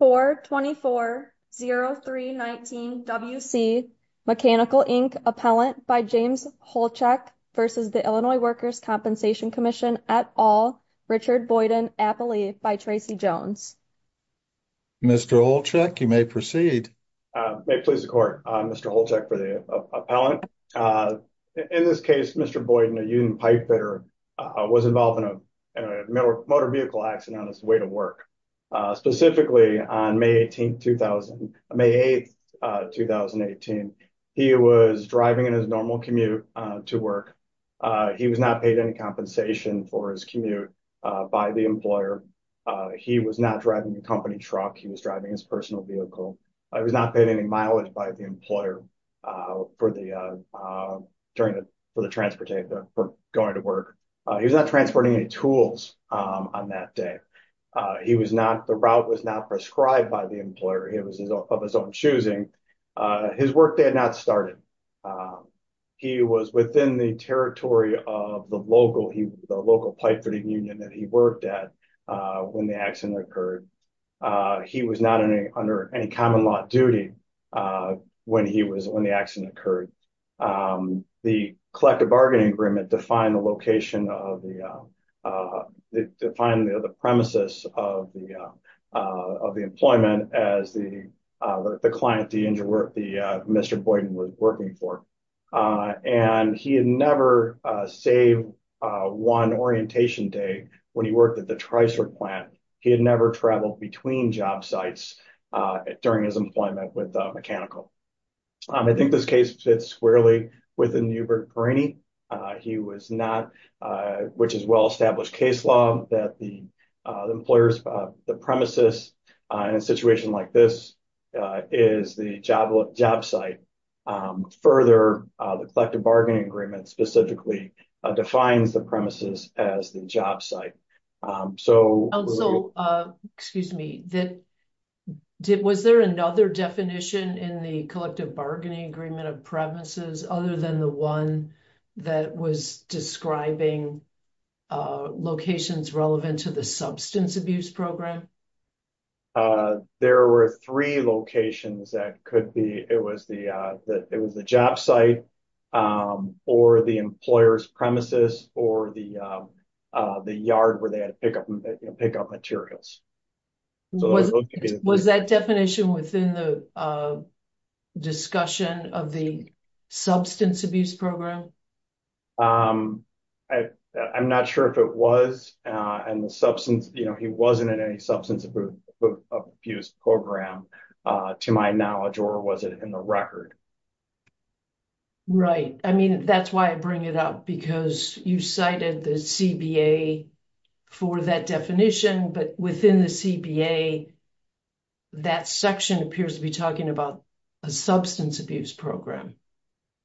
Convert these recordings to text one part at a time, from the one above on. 424-0319 WC Mechanical Inc. Appellant by James Holchek v. Illinois Workers' Compensation Comm'n et al., Richard Boyden, Appalachia, by Tracy Jones. Mr. Holchek, you may proceed. May it please the Court, Mr. Holchek for the appellant. In this case, Mr. Boyden, a union on May 8, 2018, he was driving in his normal commute to work. He was not paid any compensation for his commute by the employer. He was not driving the company truck. He was driving his personal vehicle. He was not paid any mileage by the employer for the transportation going to work. He was not transporting any tools on that day. The route was not prescribed by the employer. It was of his own choosing. His work day had not started. He was within the territory of the local pipe fitting union that he worked at when the accident occurred. He was not under any common duty when the accident occurred. The collective bargaining agreement defined the premises of the employment as the client, Mr. Boyden, was working for. He had never saved one orientation day when the triceratops plant, he had never traveled between job sites during his employment with Mechanical. I think this case fits squarely within the Uber-Carini. He was not, which is well-established case law, that the employer's premises in a situation like this is the job site. Further, the collective bargaining agreement specifically defines the premises as the job site. Also, was there another definition in the collective bargaining agreement of premises other than the one that was describing locations relevant to the substance abuse program? There were three locations that could be. It was the job site, or the employer's premises, or the yard where they had pickup materials. Was that definition within the discussion of the substance abuse program? I'm not sure if it was. He wasn't in any substance abuse program to my knowledge, or was it in the record? Right. I mean, that's why I bring it up because you cited the CBA for that definition, but within the CBA, that section appears to be talking about a substance abuse program.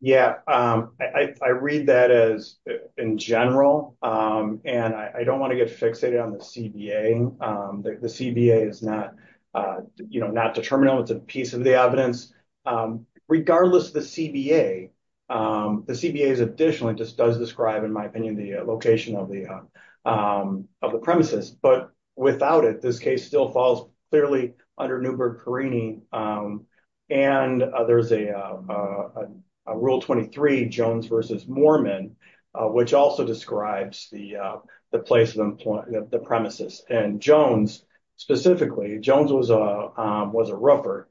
Yeah. I read that as in general, and I don't want to get fixated on the CBA. The CBA is not the terminal. It's a piece of the evidence. Regardless of the CBA, the CBA is additional. It just does describe, in my opinion, the location of the premises, but without it, this case still falls clearly under Newburgh-Perini. There's a Rule 23, Jones versus Mormon, which also describes the premises. Jones, specifically, Jones was a roofer.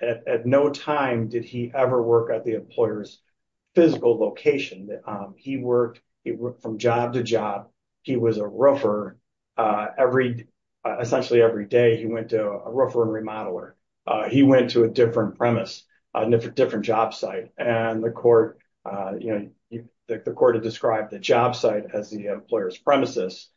At no time did he ever work at the employer's physical location. He worked from job to job. He was a roofer. Essentially, every day, he went to a roofer and remodeler. He went to a different premise, different job site. The court had described the job site as the employer's premises.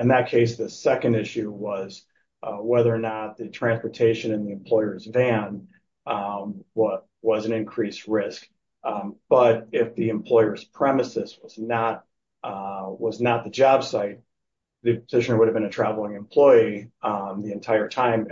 In that case, the second issue was whether or not the transportation in the employer's van was an increased risk. If the employer's premises was not the job site, the petitioner would have been a traveling employee the entire time.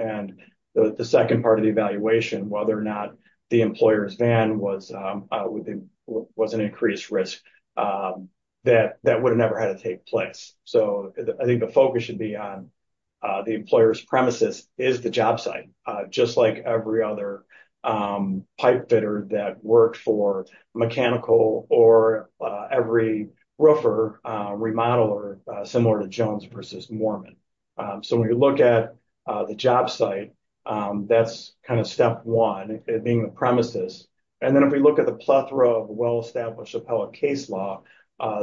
The second part of the evaluation, whether or not the employer's van was an increased risk, that would have never had to take place. I think the focus should be on the employer's premises is the job site, just like every other pipe fitter that worked for mechanical or every roofer remodeler, similar to Jones versus Mormon. When you look at the job site, that's step one, being the premises. Then, if we look at the plethora of well-established appellate case law,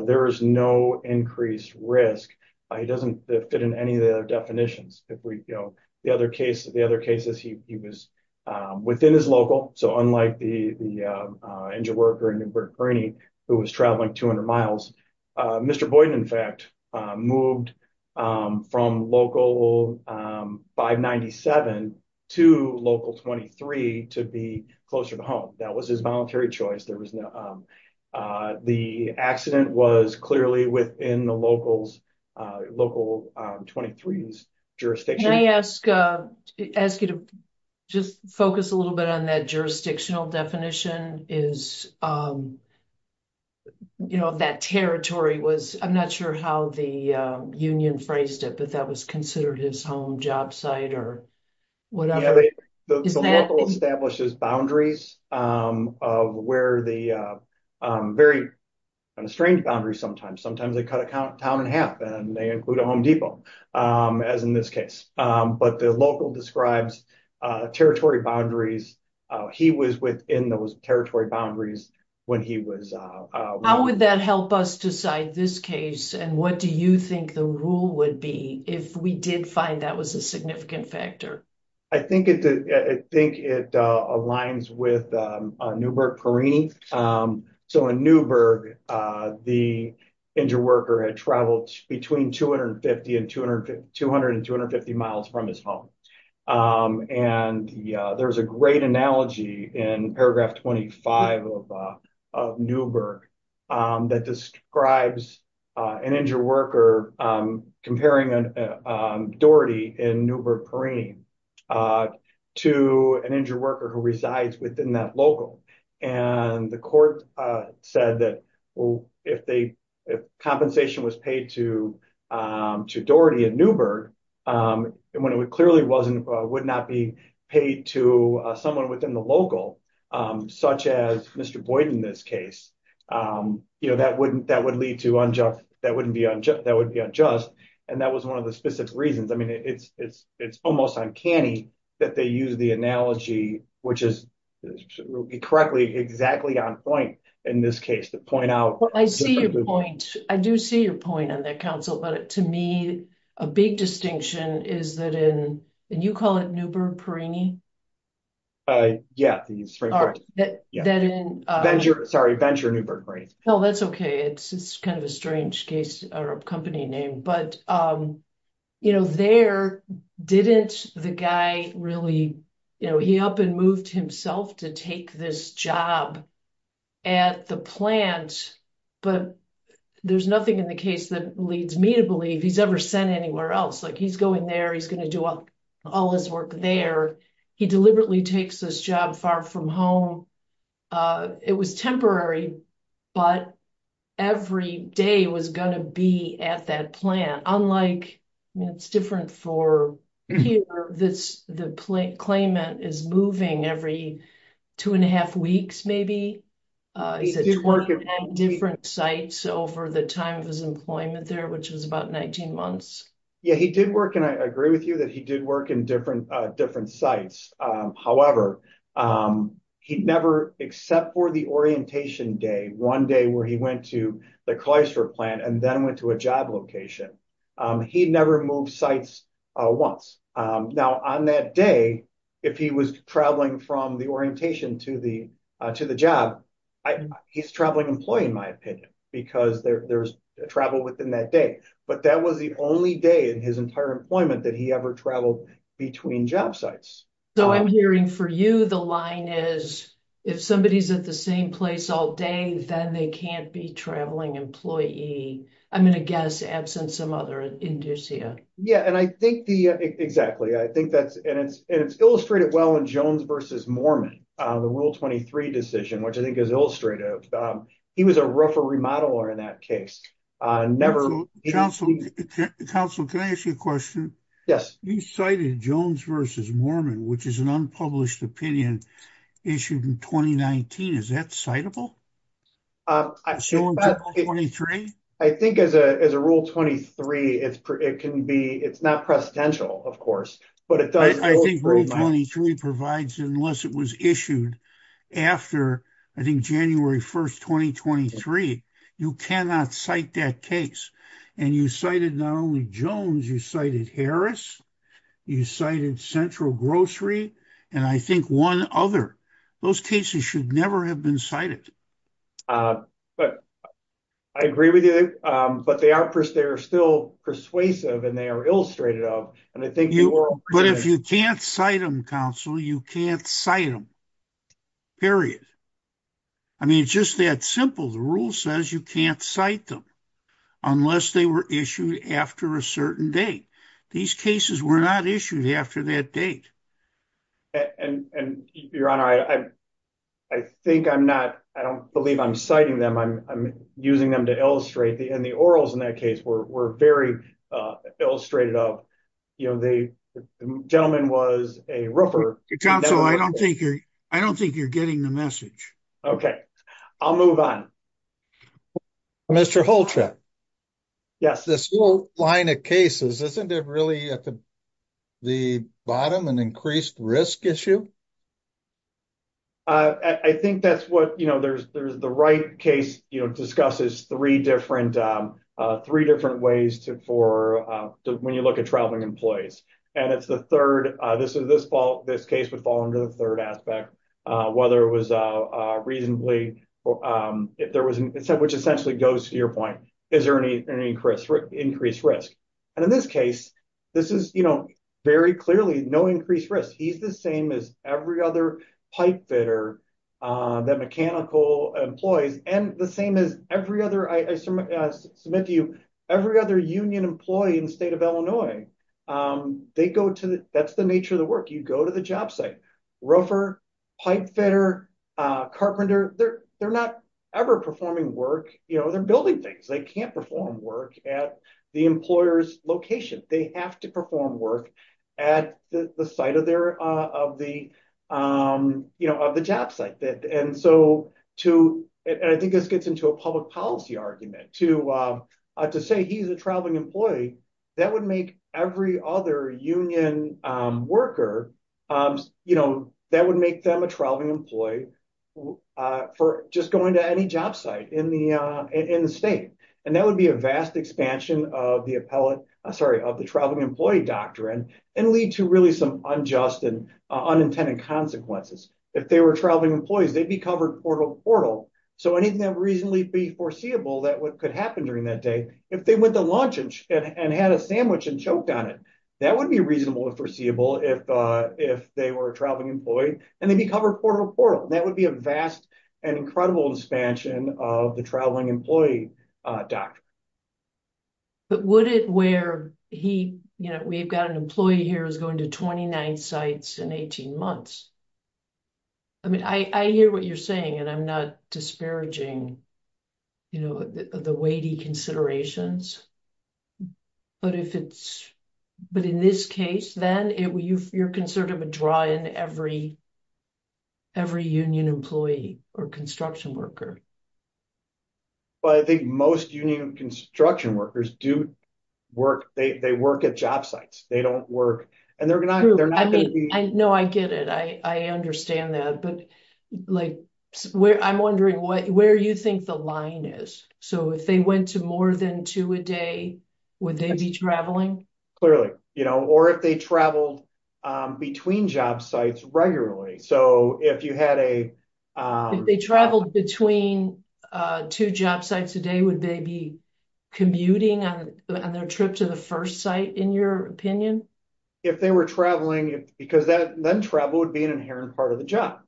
there is no increased risk. It doesn't fit in any of the definitions. The other cases, he was within his local, unlike the engine worker who was traveling 200 miles. Mr. Boyden, in fact, moved from local 597 to local 23 to be closer to home. That was his voluntary choice. The accident was clearly within the local local 23's jurisdiction. Can I ask you to just focus a little bit on that jurisdictional definition? That territory was, I'm not sure how the union phrased it, but that was considered his home job site or whatever. The local establishes boundaries of where the, very strange boundaries sometimes. Sometimes they cut a town in half and they include a Home Depot, as in this case, but the local describes territory boundaries. He was within those territory boundaries when he was. How would that help us decide this case and what do you think the rule would be if we did find that was a significant factor? I think it aligns with Newburgh-Perini. In Newburgh, the engine worker had traveled between 250 and 200 miles from his home. There's a great analogy in paragraph 25 of Newburgh that describes an engine worker comparing a Doherty in Newburgh-Perini to an engine worker who resides within that local. The court said that if compensation was paid to Doherty in Newburgh, when it clearly would not be paid to someone within the local, such as Mr. Boyden in this case, that would be unjust. That was one of the specific reasons. It's almost uncanny that they use the analogy, which is correctly exactly on point in this case. I do see your point on that, counsel, but to me, a big distinction is that in, and you call it Newburgh-Perini? Sorry, venture Newburgh-Perini. No, that's okay. It's kind of a strange case or a company name, but there didn't the guy really, he up and moved himself to take this job at the plant, but there's nothing in the case that leads me to believe he's ever sent anywhere else. He's going there, he's going to do all his work there. He deliberately takes this job far from home. It was temporary, but every day was going to be at that plant. Unlike, it's different for here, the claimant is moving every two and a half weeks, maybe. He's at 29 different sites over the time of his employment there, which was about 19 months. Yeah, he did work, and I agree with you that he did work in different sites. However, he'd never, except for the orientation day, one day where he went to the Chrysler plant and then went to a job location, he'd never moved sites once. Now, on that day, if he was traveling from the orientation to the job, he's a traveling employee, in my opinion, because there's travel within that day, but that was the only day in his entire employment that he ever traveled between job sites. So, I'm hearing for you, the line is, if somebody's at the same place all day, then they can't be traveling employee. I'm going to guess absence some other inducio. Yeah, and I think the, exactly. I think that's, and it's illustrated well in Jones versus Mormon, the rule 23 decision, which I think is illustrative. He was a referee modeler in that case. Councilor, can I ask you a question? Yes. You cited Jones versus Mormon, which is an unpublished opinion issued in 2019. Is that citable? I think as a rule 23, it can be, it's not presidential, of course, but it does. I think rule 23 provides, unless it was issued after, I think January 1st, 2023, you cannot cite that case. And you cited not only Jones, you cited Harris, you cited Central Grocery, and I think one other. Those cases should never have cited. But I agree with you, but they are still persuasive and they are illustrated of, and I think you were. But if you can't cite them, Councilor, you can't cite them, period. I mean, it's just that simple. The rule says you can't cite them unless they were issued after a certain date. These cases were not issued after that date. And your honor, I think I'm not, I don't believe I'm citing them. I'm using them to illustrate, and the orals in that case were very illustrated of, you know, the gentleman was a roofer. Councilor, I don't think you're getting the message. Okay, I'll move on. Mr. Holtrep. Yes. This whole line of cases, isn't it really at the bottom an increased risk issue? I think that's what, you know, there's the right case, you know, discusses three different ways for when you look at traveling employees. And it's the third, this case would fall under the third aspect, whether it was reasonably, which essentially goes to your point, is there any increased risk? And in this case, this is, you know, very clearly, no increased risk. He's the same as every other pipe fitter, that mechanical employees, and the same as every other, I submit to you, every other union employee in the state of Illinois, they go to, that's the nature of the work, you go to the job site, roofer, pipe fitter, carpenter, they're not ever performing work, you know, they're building things, they can't perform work at the employer's location, they have to perform work at the site of their, of the, you know, of the job site that and so, to, I think this gets into a public policy argument to, to say he's a traveling employee, that would make every other union worker, you know, that would make them a traveling employee for just going to any job site in the, in the state. And that would be a vast expansion of the appellate, sorry, of the traveling employee doctrine, and lead to really some unjust and unintended consequences. If they were traveling employees, they'd be covered portal to portal. So anything that would reasonably be foreseeable that what could happen during that day, if they went to lunch and had a sandwich and choked on it, that would be reasonable and if, if they were a traveling employee, and they'd be covered portal to portal, that would be a vast and incredible expansion of the traveling employee doctrine. But would it where he, you know, we've got an employee here who's going to 29 sites in 18 months. I mean, I hear what you're saying, and I'm not disparaging, you know, the weighty considerations. But if it's, but in this case, then it will, you, you're concerned of a dry in every, every union employee or construction worker. But I think most union construction workers do work, they work at job sites, they don't work. And they're gonna, they're not gonna be, I know, I get it. I understand that. But like, where I'm wondering what, where you think the line is. So if they went to more than two a day, would they be traveling? Clearly, you know, or if they traveled between job sites regularly. So if you had a, they traveled between two job sites a day, would they be commuting on their trip to the first site, in your opinion, if they were traveling, because that then travel would be an inherent part of the job,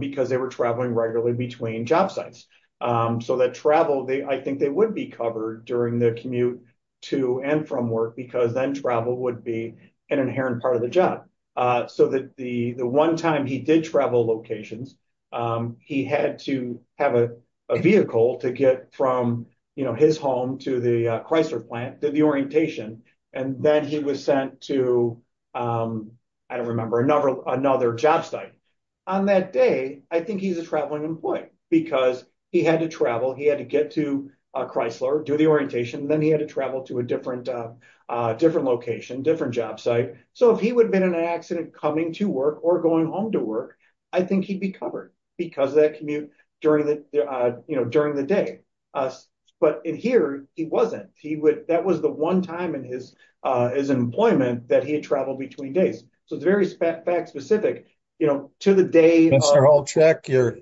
because they were traveling regularly between job sites. So that travel, they, I think they would be covered during the commute to and from work, because then travel would be an inherent part of the job. So that the, the one time he did travel locations, he had to have a vehicle to get from, you know, his home to the Chrysler plant, did the orientation. And then he was sent to, I don't remember another, another job site. On that day, I think he's a traveling employee, because he had to travel, he had to get to Chrysler, do the orientation, then he had to travel to a different, different location, different job site. So if he would have been in an accident coming to work or going home to work, I think he'd be covered because of that commute during the, you know, during the day. But in here, he wasn't. He would, that was the one time in his, his employment that he had traveled between days. So very fact specific, you know, to the day. Mr. Holcheck, you're,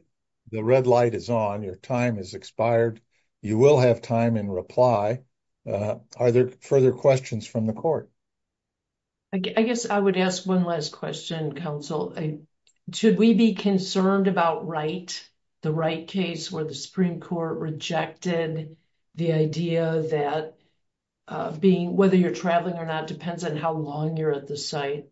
the red light is on, your time is expired. You will have time in reply. Are there further questions from the court? I guess I would ask one last question, counsel. Should we be concerned about Wright, the Wright case where the Supreme Court rejected the idea that being, whether you're traveling or not depends on how long you're at the site?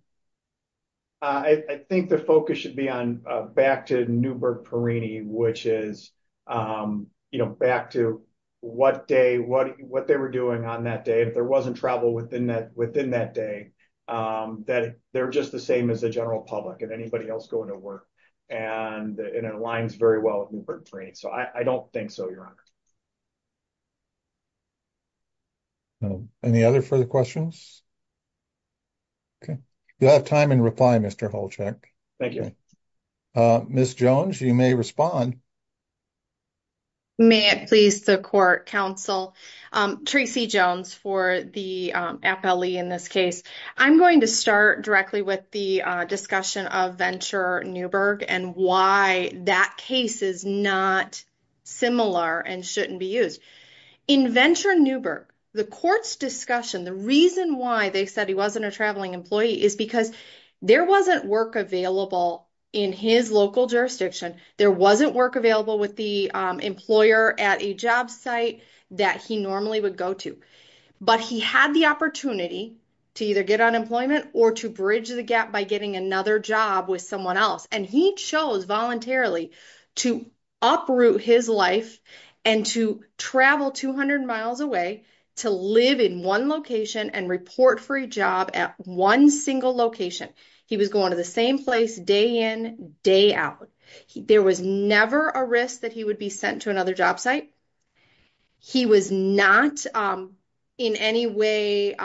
I think the focus should be on back to Newburgh-Perini, which is, you know, back to what day, what, what they were doing on that day. If there wasn't travel within that, within that day, that they're just the same as the general public and anybody else going to work. And it aligns very well with Newburgh-Perini. So I don't think so, Your Honor. No. Any other further questions? Okay. You'll have time in reply, Mr. Holcheck. Thank you. Ms. Jones, you may respond. May it please the court, counsel. Tracy Jones for the FLE in this case. I'm going to start directly with the discussion of Venture Newburgh and why that case is not similar and shouldn't be used. In Venture Newburgh, the court's discussion, the reason why they said he wasn't a traveling employee is because there wasn't work available in his local jurisdiction. There wasn't work available with the employer at a job site that he normally would go to, but he had the opportunity to either get unemployment or to bridge the gap by getting another job with someone else. And he chose voluntarily to uproot his life and to travel 200 miles away to live in one location and report for a job at one single location. He was going to the same place day in, day out. There was never a risk that he would be sent to another job site. He was not in any way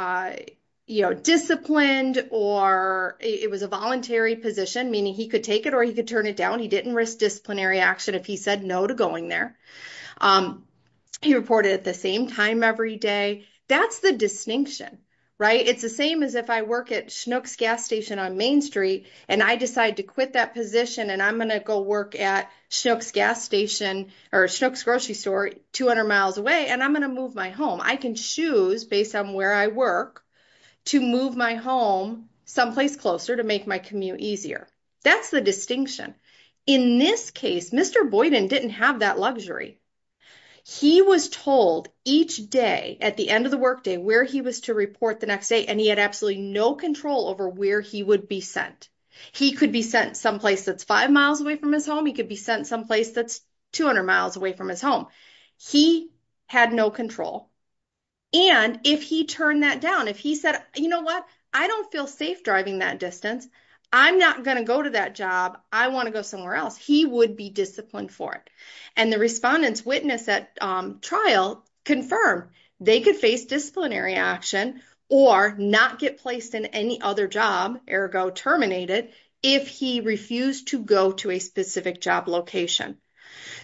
disciplined or it was a voluntary position, meaning he could take it or he could turn it down. He didn't risk disciplinary action if he said no to going there. He reported at the same time every day. That's the distinction, right? It's the same as if I work at Schnucks Gas Station on Main Street and I decide to quit that position and I'm going to go work at Schnucks Gas Station or Schnucks Grocery Store 200 miles away and I'm going to move my home. I can choose based on where I work to move my home someplace closer to make my commute easier. That's the distinction. In this case, Mr. Boyden didn't have that luxury. He was told each day at the end of the workday where he was to report the next day and he had no control over where he would be sent. He could be sent someplace that's five miles away from his home. He could be sent someplace that's 200 miles away from his home. He had no control and if he turned that down, if he said, you know what? I don't feel safe driving that distance. I'm not going to go to that job. I want to go somewhere else. He would be disciplined for it and the witness at trial confirmed they could face disciplinary action or not get placed in any other job, ergo terminated, if he refused to go to a specific job location.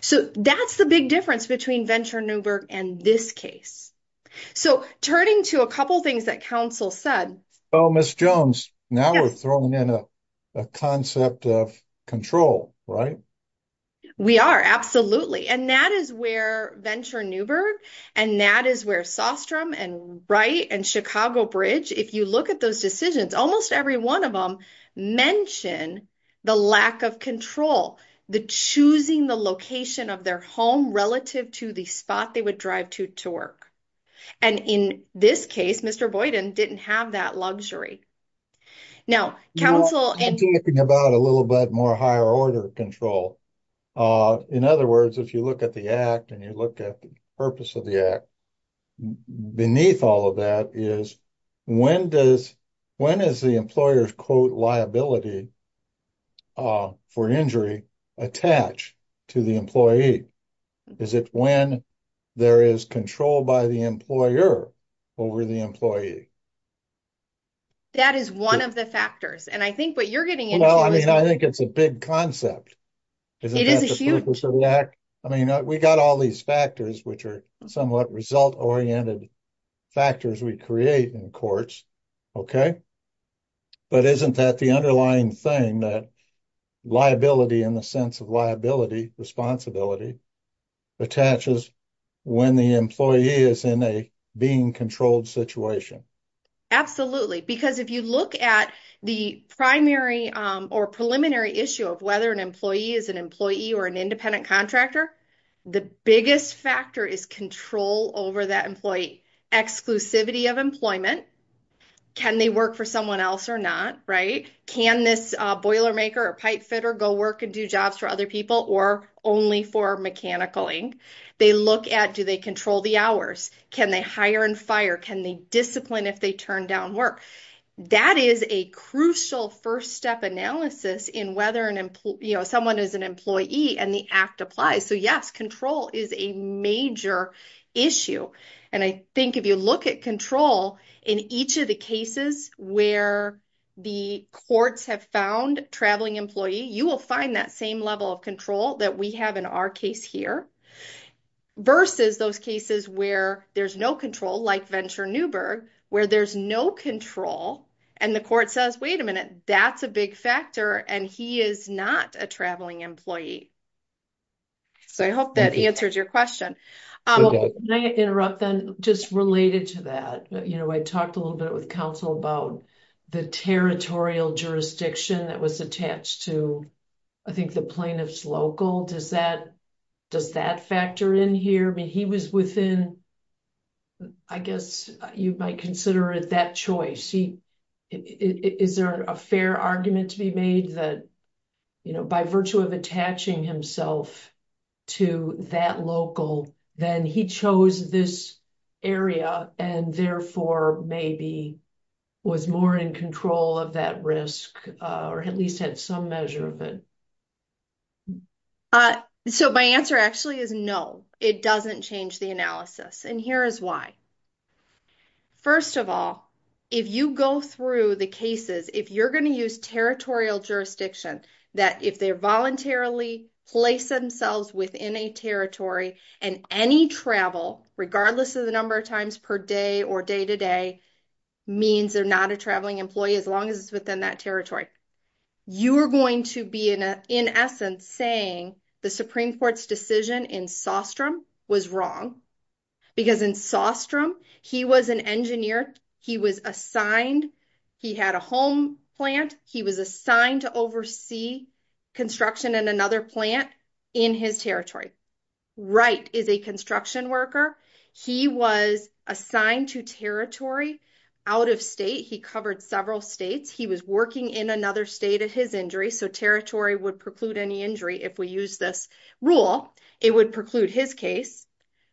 So, that's the big difference between Venture Nuremberg and this case. So, turning to a couple things that counsel said. So, Ms. Jones, now we're throwing in a concept of control, right? We are, absolutely. And that is where Venture Nuremberg and that is where Sostrom and Wright and Chicago Bridge, if you look at those decisions, almost every one of them mention the lack of control, the choosing the location of their home relative to the spot they would drive to to work. And in this case, Mr. Boyden didn't have that luxury. Now, counsel... I'm talking about a little bit more higher order control. In other words, if you look at the Act and you look at the purpose of the Act, beneath all of that is when does, when is the employer's liability for injury attached to the employee? Is it when there is control by the employer over the employee? That is one of the factors. And I think what you're getting into... Well, I mean, I think it's a big concept. It is a huge... I mean, we got all these factors, which are somewhat result-oriented factors we create in Okay. But isn't that the underlying thing that liability in the sense of liability, responsibility, attaches when the employee is in a being controlled situation? Absolutely. Because if you look at the primary or preliminary issue of whether an employee is an employee or an independent contractor, the biggest factor is control over that employee. Exclusivity of employment, can they work for someone else or not, right? Can this boiler maker or pipe fitter go work and do jobs for other people or only for mechanical ink? They look at, do they control the hours? Can they hire and fire? Can they discipline if they turn down work? That is a crucial first step analysis in whether someone is an employee and the act applies. So yes, control is a major issue. And I think if you look at control in each of the cases where the courts have found traveling employee, you will find that same level of control that we have in our case here versus those cases where there's no control like Venture Newberg, where there's no control and the court says, wait a minute, that's a big employee. So I hope that answers your question. Can I interrupt then just related to that? I talked a little bit with counsel about the territorial jurisdiction that was attached to, I think the plaintiff's local, does that factor in here? I mean, he was within, I guess you might consider it that choice. Is there a fair argument to be made that by virtue of attaching himself to that local, then he chose this area and therefore maybe was more in control of that risk or at least had some measure of it? So my answer actually is no, it doesn't change the analysis. And here is why. First of all, if you go through the cases, if you're going to use territorial jurisdiction, that if they voluntarily place themselves within a territory and any travel, regardless of the number of times per day or day-to-day means they're not a traveling employee, as long as it's within that territory, you are going to be in essence saying the Supreme Court's decision in Sostrom was wrong because in Sostrom, he was an engineer. He was assigned, he had a home plant. He was assigned to oversee construction in another plant in his territory. Wright is a construction worker. He was assigned to territory out of state. He covered several states. He was working in another state at his injury. So territory would preclude any injury if we use this rule, it would preclude his case.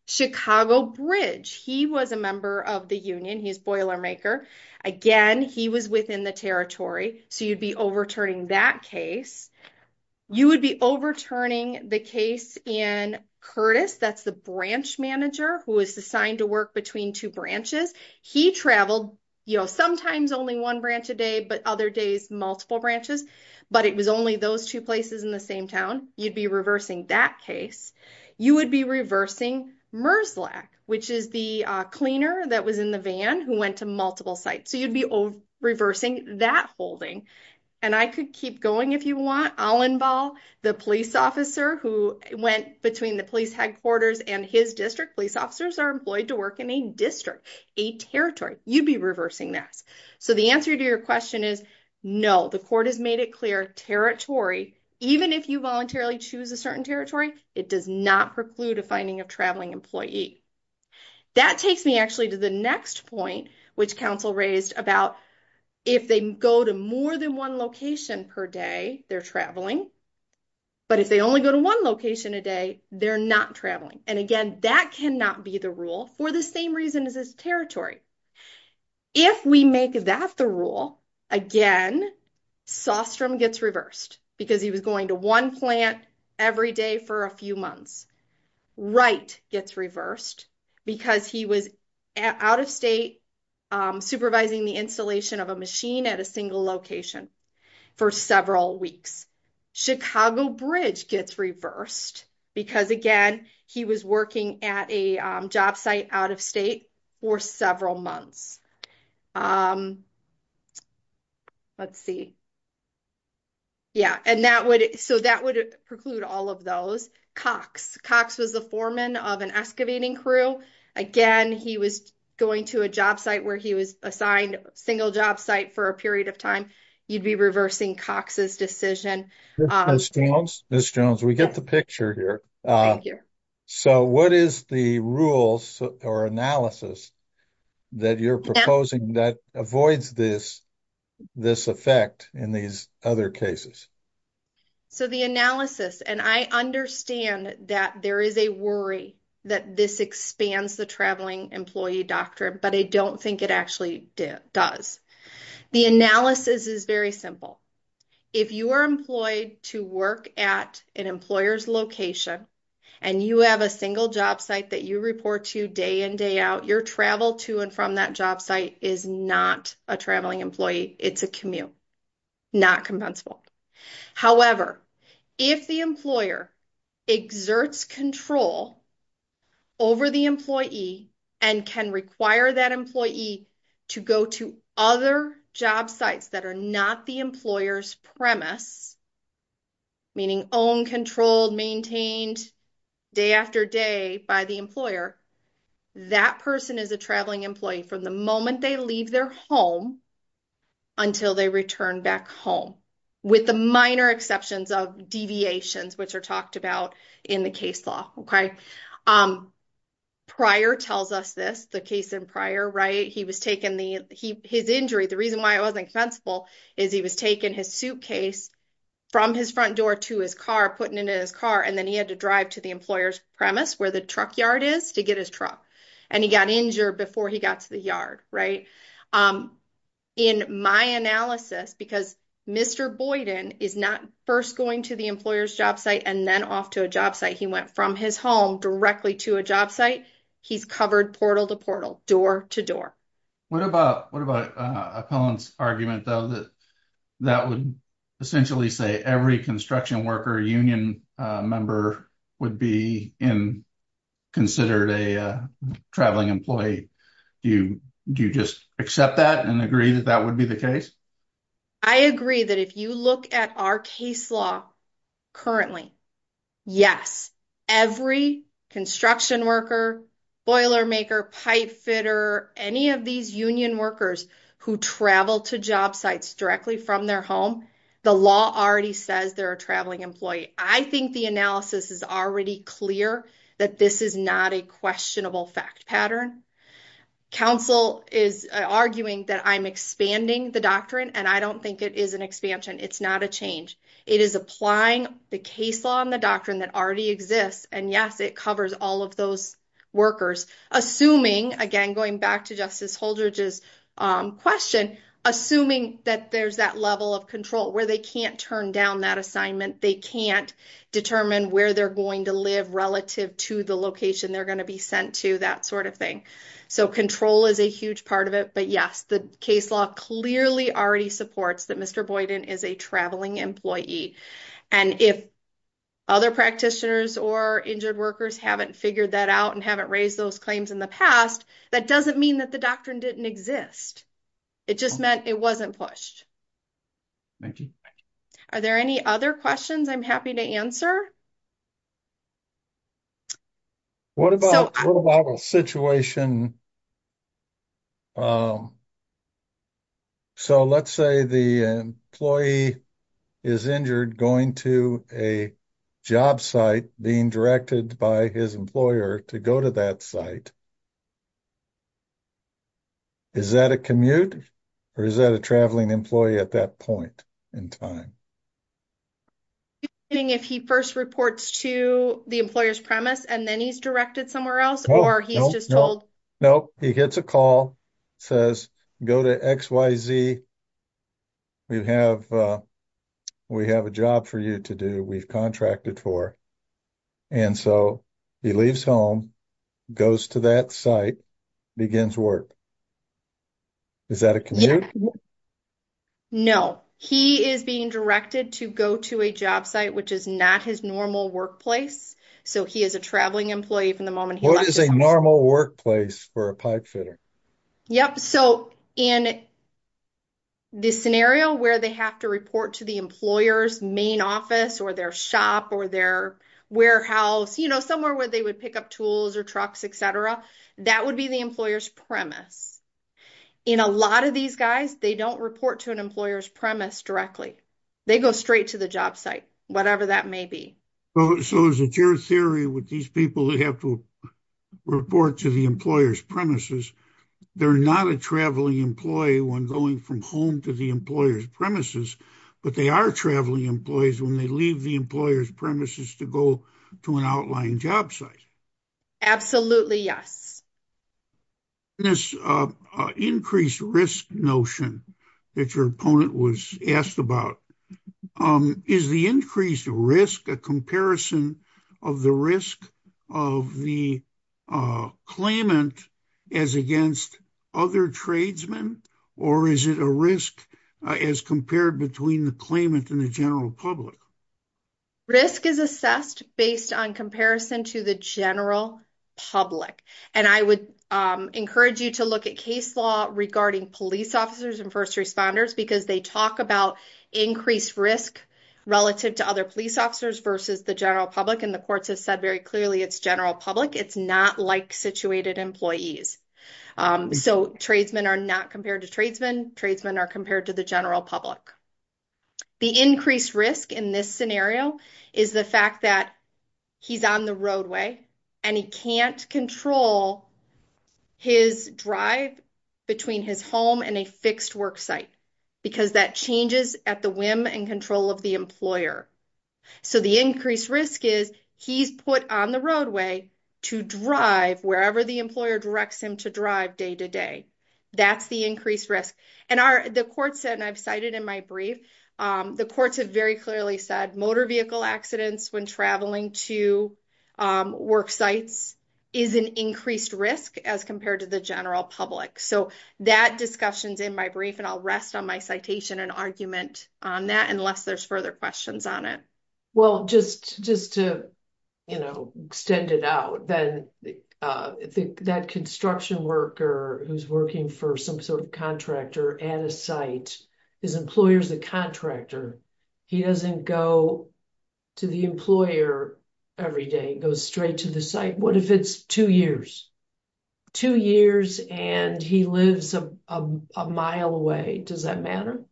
Chicago Bridge, he was a member of the union. He's Boilermaker. Again, he was within the territory. So you'd be overturning that case. You would be overturning the case in Curtis. That's the branch manager who was assigned to work between two branches. He traveled sometimes only one branch a day, but other days, multiple branches. But it was only those two places in the same town. You'd be reversing that case. You would be reversing Merzlach, which is the cleaner that was in the van who went to multiple sites. So you'd be reversing that holding. And I could keep going if you want. Allenball, the police officer who went between the police headquarters and his district. Police officers are employed to work in a district, a territory. You'd be reversing that. So the answer to your question is no. The even if you voluntarily choose a certain territory, it does not preclude a finding of traveling employee. That takes me actually to the next point which counsel raised about if they go to more than one location per day, they're traveling. But if they only go to one location a day, they're not traveling. And again, that cannot be the rule for the same reason as territory. If we make that the rule, again, Sostrom gets reversed because he was going to one plant every day for a few months. Wright gets reversed because he was out of state supervising the installation of a machine at a single location for several weeks. Chicago Bridge gets reversed because, again, he was working at a job site out of state for several months. Let's see. Yeah. And that would so that would preclude all of those. Cox. Cox was the foreman of an excavating crew. Again, he was going to a job site where he was assigned a single job site for a period of time. You'd be reversing Cox's decision. Miss Jones, we get the picture here. So what is the rules or analysis that you're proposing that avoids this effect in these other cases? So the analysis, and I understand that there is a worry that this expands the employee doctrine, but I don't think it actually does. The analysis is very simple. If you are employed to work at an employer's location and you have a single job site that you report to day in, day out, your travel to and from that job site is not a traveling employee. It's a commute, not compensable. However, if the employer exerts control over the employee and can require that employee to go to other job sites that are not the employer's premise, meaning own, controlled, maintained, day after day by the employer, that person is a traveling employee from the moment they leave their home until they return back home, with the minor exceptions of deviations, which are talked about in the case law, okay? Prior tells us this, the case in Prior, right? His injury, the reason why it wasn't compensable is he was taking his suitcase from his front door to his car, putting it in his car, and then he had to drive to the yard, right? In my analysis, because Mr. Boyden is not first going to the employer's job site and then off to a job site. He went from his home directly to a job site. He's covered portal to portal, door to door. What about Appellant's argument, though, that would essentially say every construction worker union member would be considered a traveling employee? Do you just accept that and agree that that would be the case? I agree that if you look at our case law currently, yes, every construction worker, boiler maker, pipe fitter, any of these union workers who travel to job sites directly from their home, the law already says they're a traveling employee. I think the analysis is already clear that this is not a questionable fact pattern. Council is arguing that I'm expanding the doctrine, and I don't think it is an expansion. It's not a change. It is applying the case law and the doctrine that already exists, and yes, it covers all of those workers, assuming, again, going back to Justice Holdridge's question, assuming that there's that level of control where they can't turn down that assignment, they can't determine where they're going to live relative to the location they're going to be sent to, that sort of thing. Control is a huge part of it, but yes, the case law clearly already supports that Mr. Boyden is a traveling employee. If other practitioners or injured workers haven't figured that out and haven't raised those claims in the past, that doesn't mean that the doctrine didn't exist. It just meant it wasn't pushed. Thank you. Are there any other questions I'm happy to answer? What about a situation, so let's say the employee is injured going to a job site being directed by his employer to go to that site, is that a commute or is that a traveling employee at that point in time? If he first reports to the employer's premise and then he's directed somewhere else or he's just told... No, he gets a call, says go to XYZ, we have a job for you to do, we've contracted for, and so he leaves home, goes to that site, begins work, is that a commute? No, he is being directed to go to a job site, which is not his normal workplace, so he is a traveling employee from the moment he left. What is a normal workplace for a pipefitter? Yep, so in this scenario where they have to report to the employer's main office or their shop or warehouse, somewhere where they would pick up tools or trucks, etc., that would be the employer's premise. In a lot of these guys, they don't report to an employer's premise directly, they go straight to the job site, whatever that may be. So is it your theory with these people that have to report to the employer's premises, they're not a traveling employee when going from home to the employer's premises, but they are traveling employees when they leave the employer's premises to go to an outlying job site? Absolutely, yes. This increased risk notion that your opponent was asked about, is the increased risk a comparison of the risk of the claimant as against other tradesmen, or is it a risk as compared between the claimant and the general public? Risk is assessed based on comparison to the general public, and I would encourage you to look at case law regarding police officers and first responders because they talk about increased risk relative to other police officers versus the general public, and the courts have said very clearly it's general public, it's not like situated employees. So tradesmen are not compared to tradesmen, tradesmen are compared to the general public. The increased risk in this scenario is the fact that he's on the roadway and he can't control his drive between his home and a fixed work site, because that changes at the whim and control of the employer. So the increased risk is he's put on the roadway to drive wherever the employer directs him to drive day to day, that's the increased risk. And the courts said, and I've cited in my brief, the courts have very clearly said motor vehicle accidents when traveling to work sites is an increased risk as compared to the general public. So that discussion's in my brief, and I'll rest on my citation and argument on that unless there's further questions on it. Well, just to extend it out, that construction worker who's working for some sort of contractor at a site, his employer's a contractor, he doesn't go to the employer every day, goes straight to the site, what if it's two years? Two years and he lives a mile away, does that matter?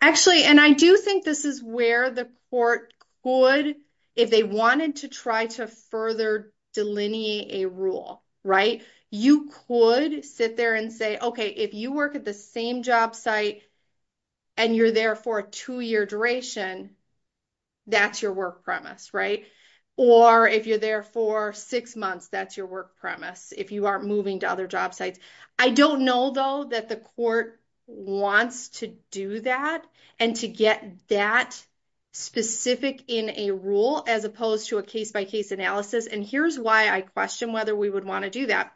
Actually, and I do think this is where the court could, if they wanted to try to further delineate a rule, right? You could sit there and say, okay, if you work at the same job site, and you're there for a two-year duration, that's your work premise, right? Or if you're there for six months, that's your work premise, if you aren't moving to other job sites. I don't know though, that the court wants to do that and to get that specific in a rule as opposed to a case-by-case analysis. And here's why I question whether we would want to do that.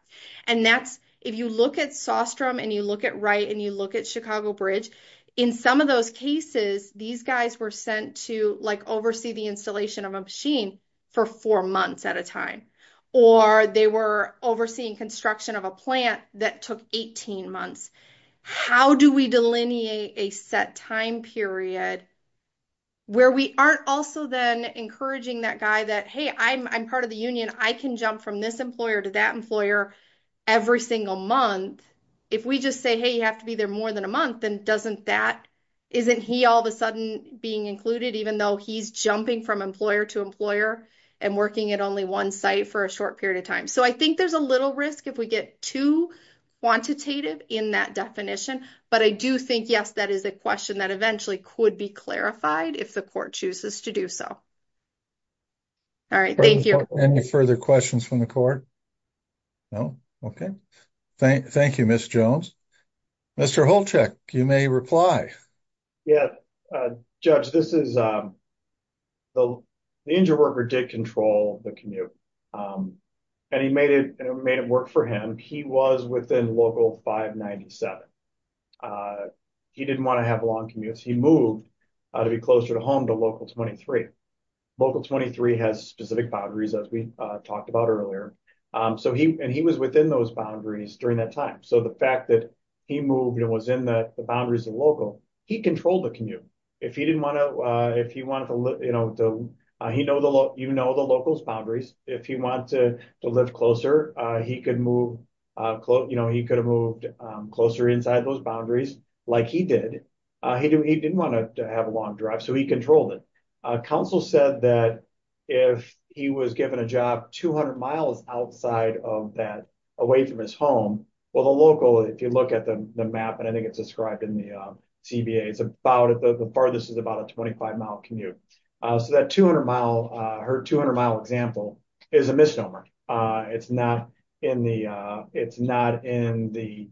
And that's, if you look at Sostrom, and you look at Wright, and you look at Chicago Bridge, in some of those cases, these guys were sent to like oversee the installation of a machine for four months at a time, or they were overseeing construction of a plant that took 18 months. How do we delineate a set time period, where we aren't also then encouraging that guy that, hey, I'm part of the union, I can jump from this employer to that employer every single month. If we just say, hey, you have to be there more than a month, then doesn't that, isn't he all of a sudden being included, even though he's jumping from employer to employer and working at only one site for a short period of time. So I think there's a little risk if we get too quantitative in that definition. But I do think, yes, that is a question that eventually could be clarified if the court chooses to do so. All right, thank you. Are there any further questions from the court? No? Okay. Thank you, Ms. Jones. Mr. Holchek, you may reply. Yeah, Judge, this is, the injured worker did control the commute, and he made it work for him. He was within local 597. He didn't want to have long commutes. He moved to be closer to home to local 23. Local 23 has specific boundaries, as we talked about earlier. And he was within those boundaries during that time. So the fact that he moved and was in the boundaries of local, he controlled the commute. If he didn't want to, if he wanted to, you know, if he wanted to live closer, he could move, you know, he could have moved closer inside those boundaries like he did. He didn't want to have a long drive, so he controlled it. Counsel said that if he was given a job 200 miles outside of that, away from his home, well, the local, if you look at the map, and I think it's described in the CBA, it's about, the farthest is about a 25 mile commute. So that 200 mile, her 200 mile example is a misnomer. It's not in the, it's not in the,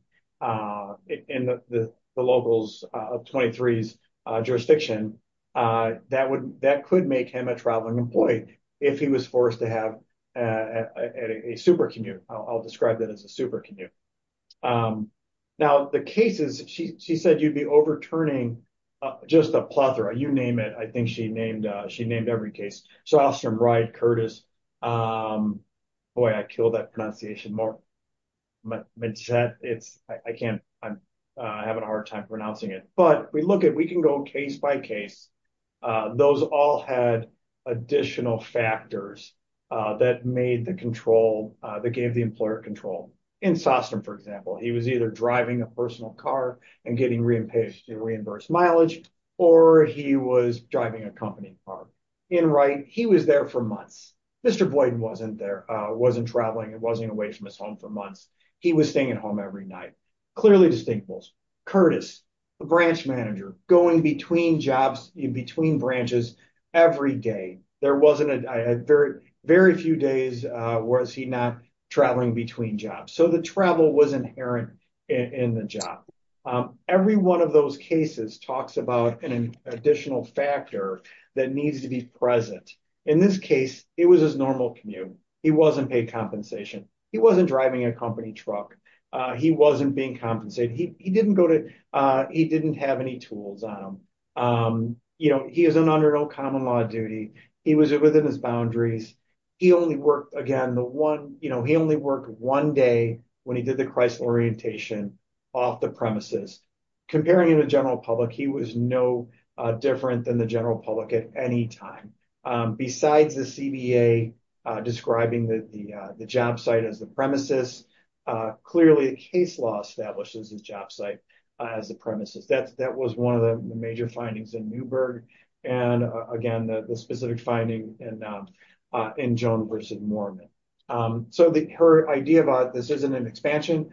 in the locals of 23's jurisdiction. That would, that could make him a traveling employee if he was forced to have a super commute. I'll describe that as a super commute. Now the cases, she said, you'd be overturning just a plethora, you name it. I think she named, she named every case. So Alstrom, Wright, Curtis, boy, I killed that pronunciation more. It's, I can't, I'm having a hard time pronouncing it, but we look at, we can go case by case. Those all had additional factors that made the control, that gave the employer control. In Sostom, for example, he was either driving a personal car and getting reimbursed mileage, or he was driving a company car. In Wright, he was there for months. Mr. Boyden wasn't there, wasn't traveling, wasn't away from his home for months. He was staying at home every night. Clearly distinctibles. Curtis, the branch manager, going between jobs, between branches every day. There wasn't a, very few days was he not traveling between jobs. So the travel was inherent in the job. Every one of those cases talks about an additional factor that needs to be present. In this case, it was his normal commute. He wasn't paid compensation. He wasn't driving a company truck. He wasn't being compensated. He didn't go to, he didn't have any tools on him. He is an under no common law duty. He was within his boundaries. He only worked again, the one, he only worked one day when he did the Chrysler orientation off the premises. Comparing him to general public, he was no different than the general public at any time. Besides the CBA describing the job site as the premises, clearly the case law establishes his job site as the premises. That was one of the major findings in Newberg. And again, the specific finding in Joan versus Mormon. So the, her idea about this isn't an expansion.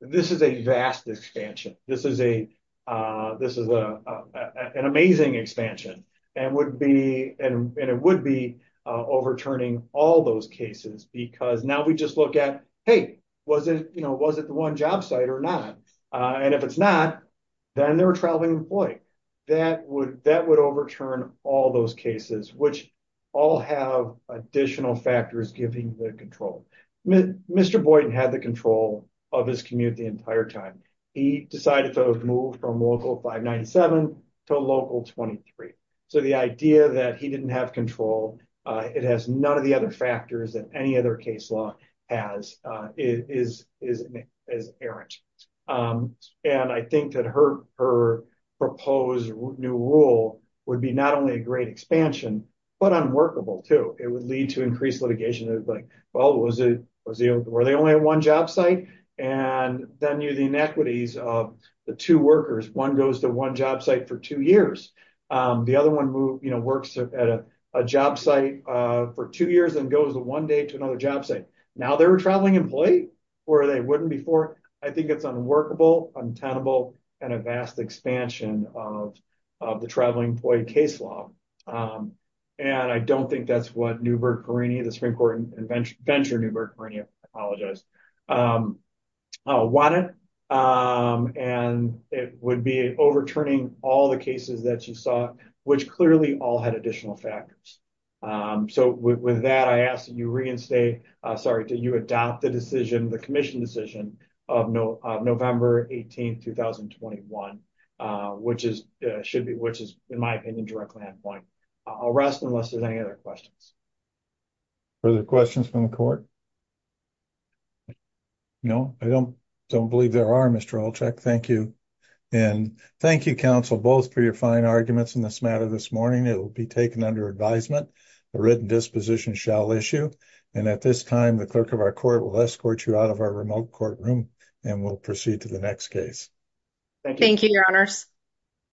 This is a vast expansion. This is a, this is a, an amazing expansion and would be, and it would be overturning all those cases because now we just look at, hey, was it, was it the one job site or not? And if it's not, then they're a traveling employee. That would, that would overturn all those cases, which all have additional factors giving the control. Mr. Boyden had the control of his commute the entire time. He decided to move from local 597 to local 23. So the idea that he didn't have control, it has none of the other factors that other case law has, is, is, is errant. And I think that her, her proposed new rule would be not only a great expansion, but unworkable too. It would lead to increased litigation of like, well, was it, was it, were they only at one job site? And then you, the inequities of the two workers, one goes to one job site for two years. The other one move, you know, works at a job site for two years and goes one day to another job site. Now they're a traveling employee or they wouldn't before. I think it's unworkable, untenable, and a vast expansion of, of the traveling employee case law. And I don't think that's what Newburgh-Perrini, the Supreme Court venture Newburgh-Perrini, I apologize, wanted. And it would be overturning all the cases that you saw, which clearly all had additional factors. So with that, I ask that you reinstate, sorry, do you adopt the decision, the commission decision of November 18th, 2021, which is, should be, which is in my opinion, directly on point. I'll rest unless there's any other questions. Further questions from the court? No, I don't, don't believe there are Mr. Olchek. Thank you. And thank you, counsel, both for your fine arguments in this matter. This morning, it will be taken under advisement, a written disposition shall issue. And at this time, the clerk of our court will escort you out of our remote courtroom and we'll proceed to the next case. Thank you, your honors.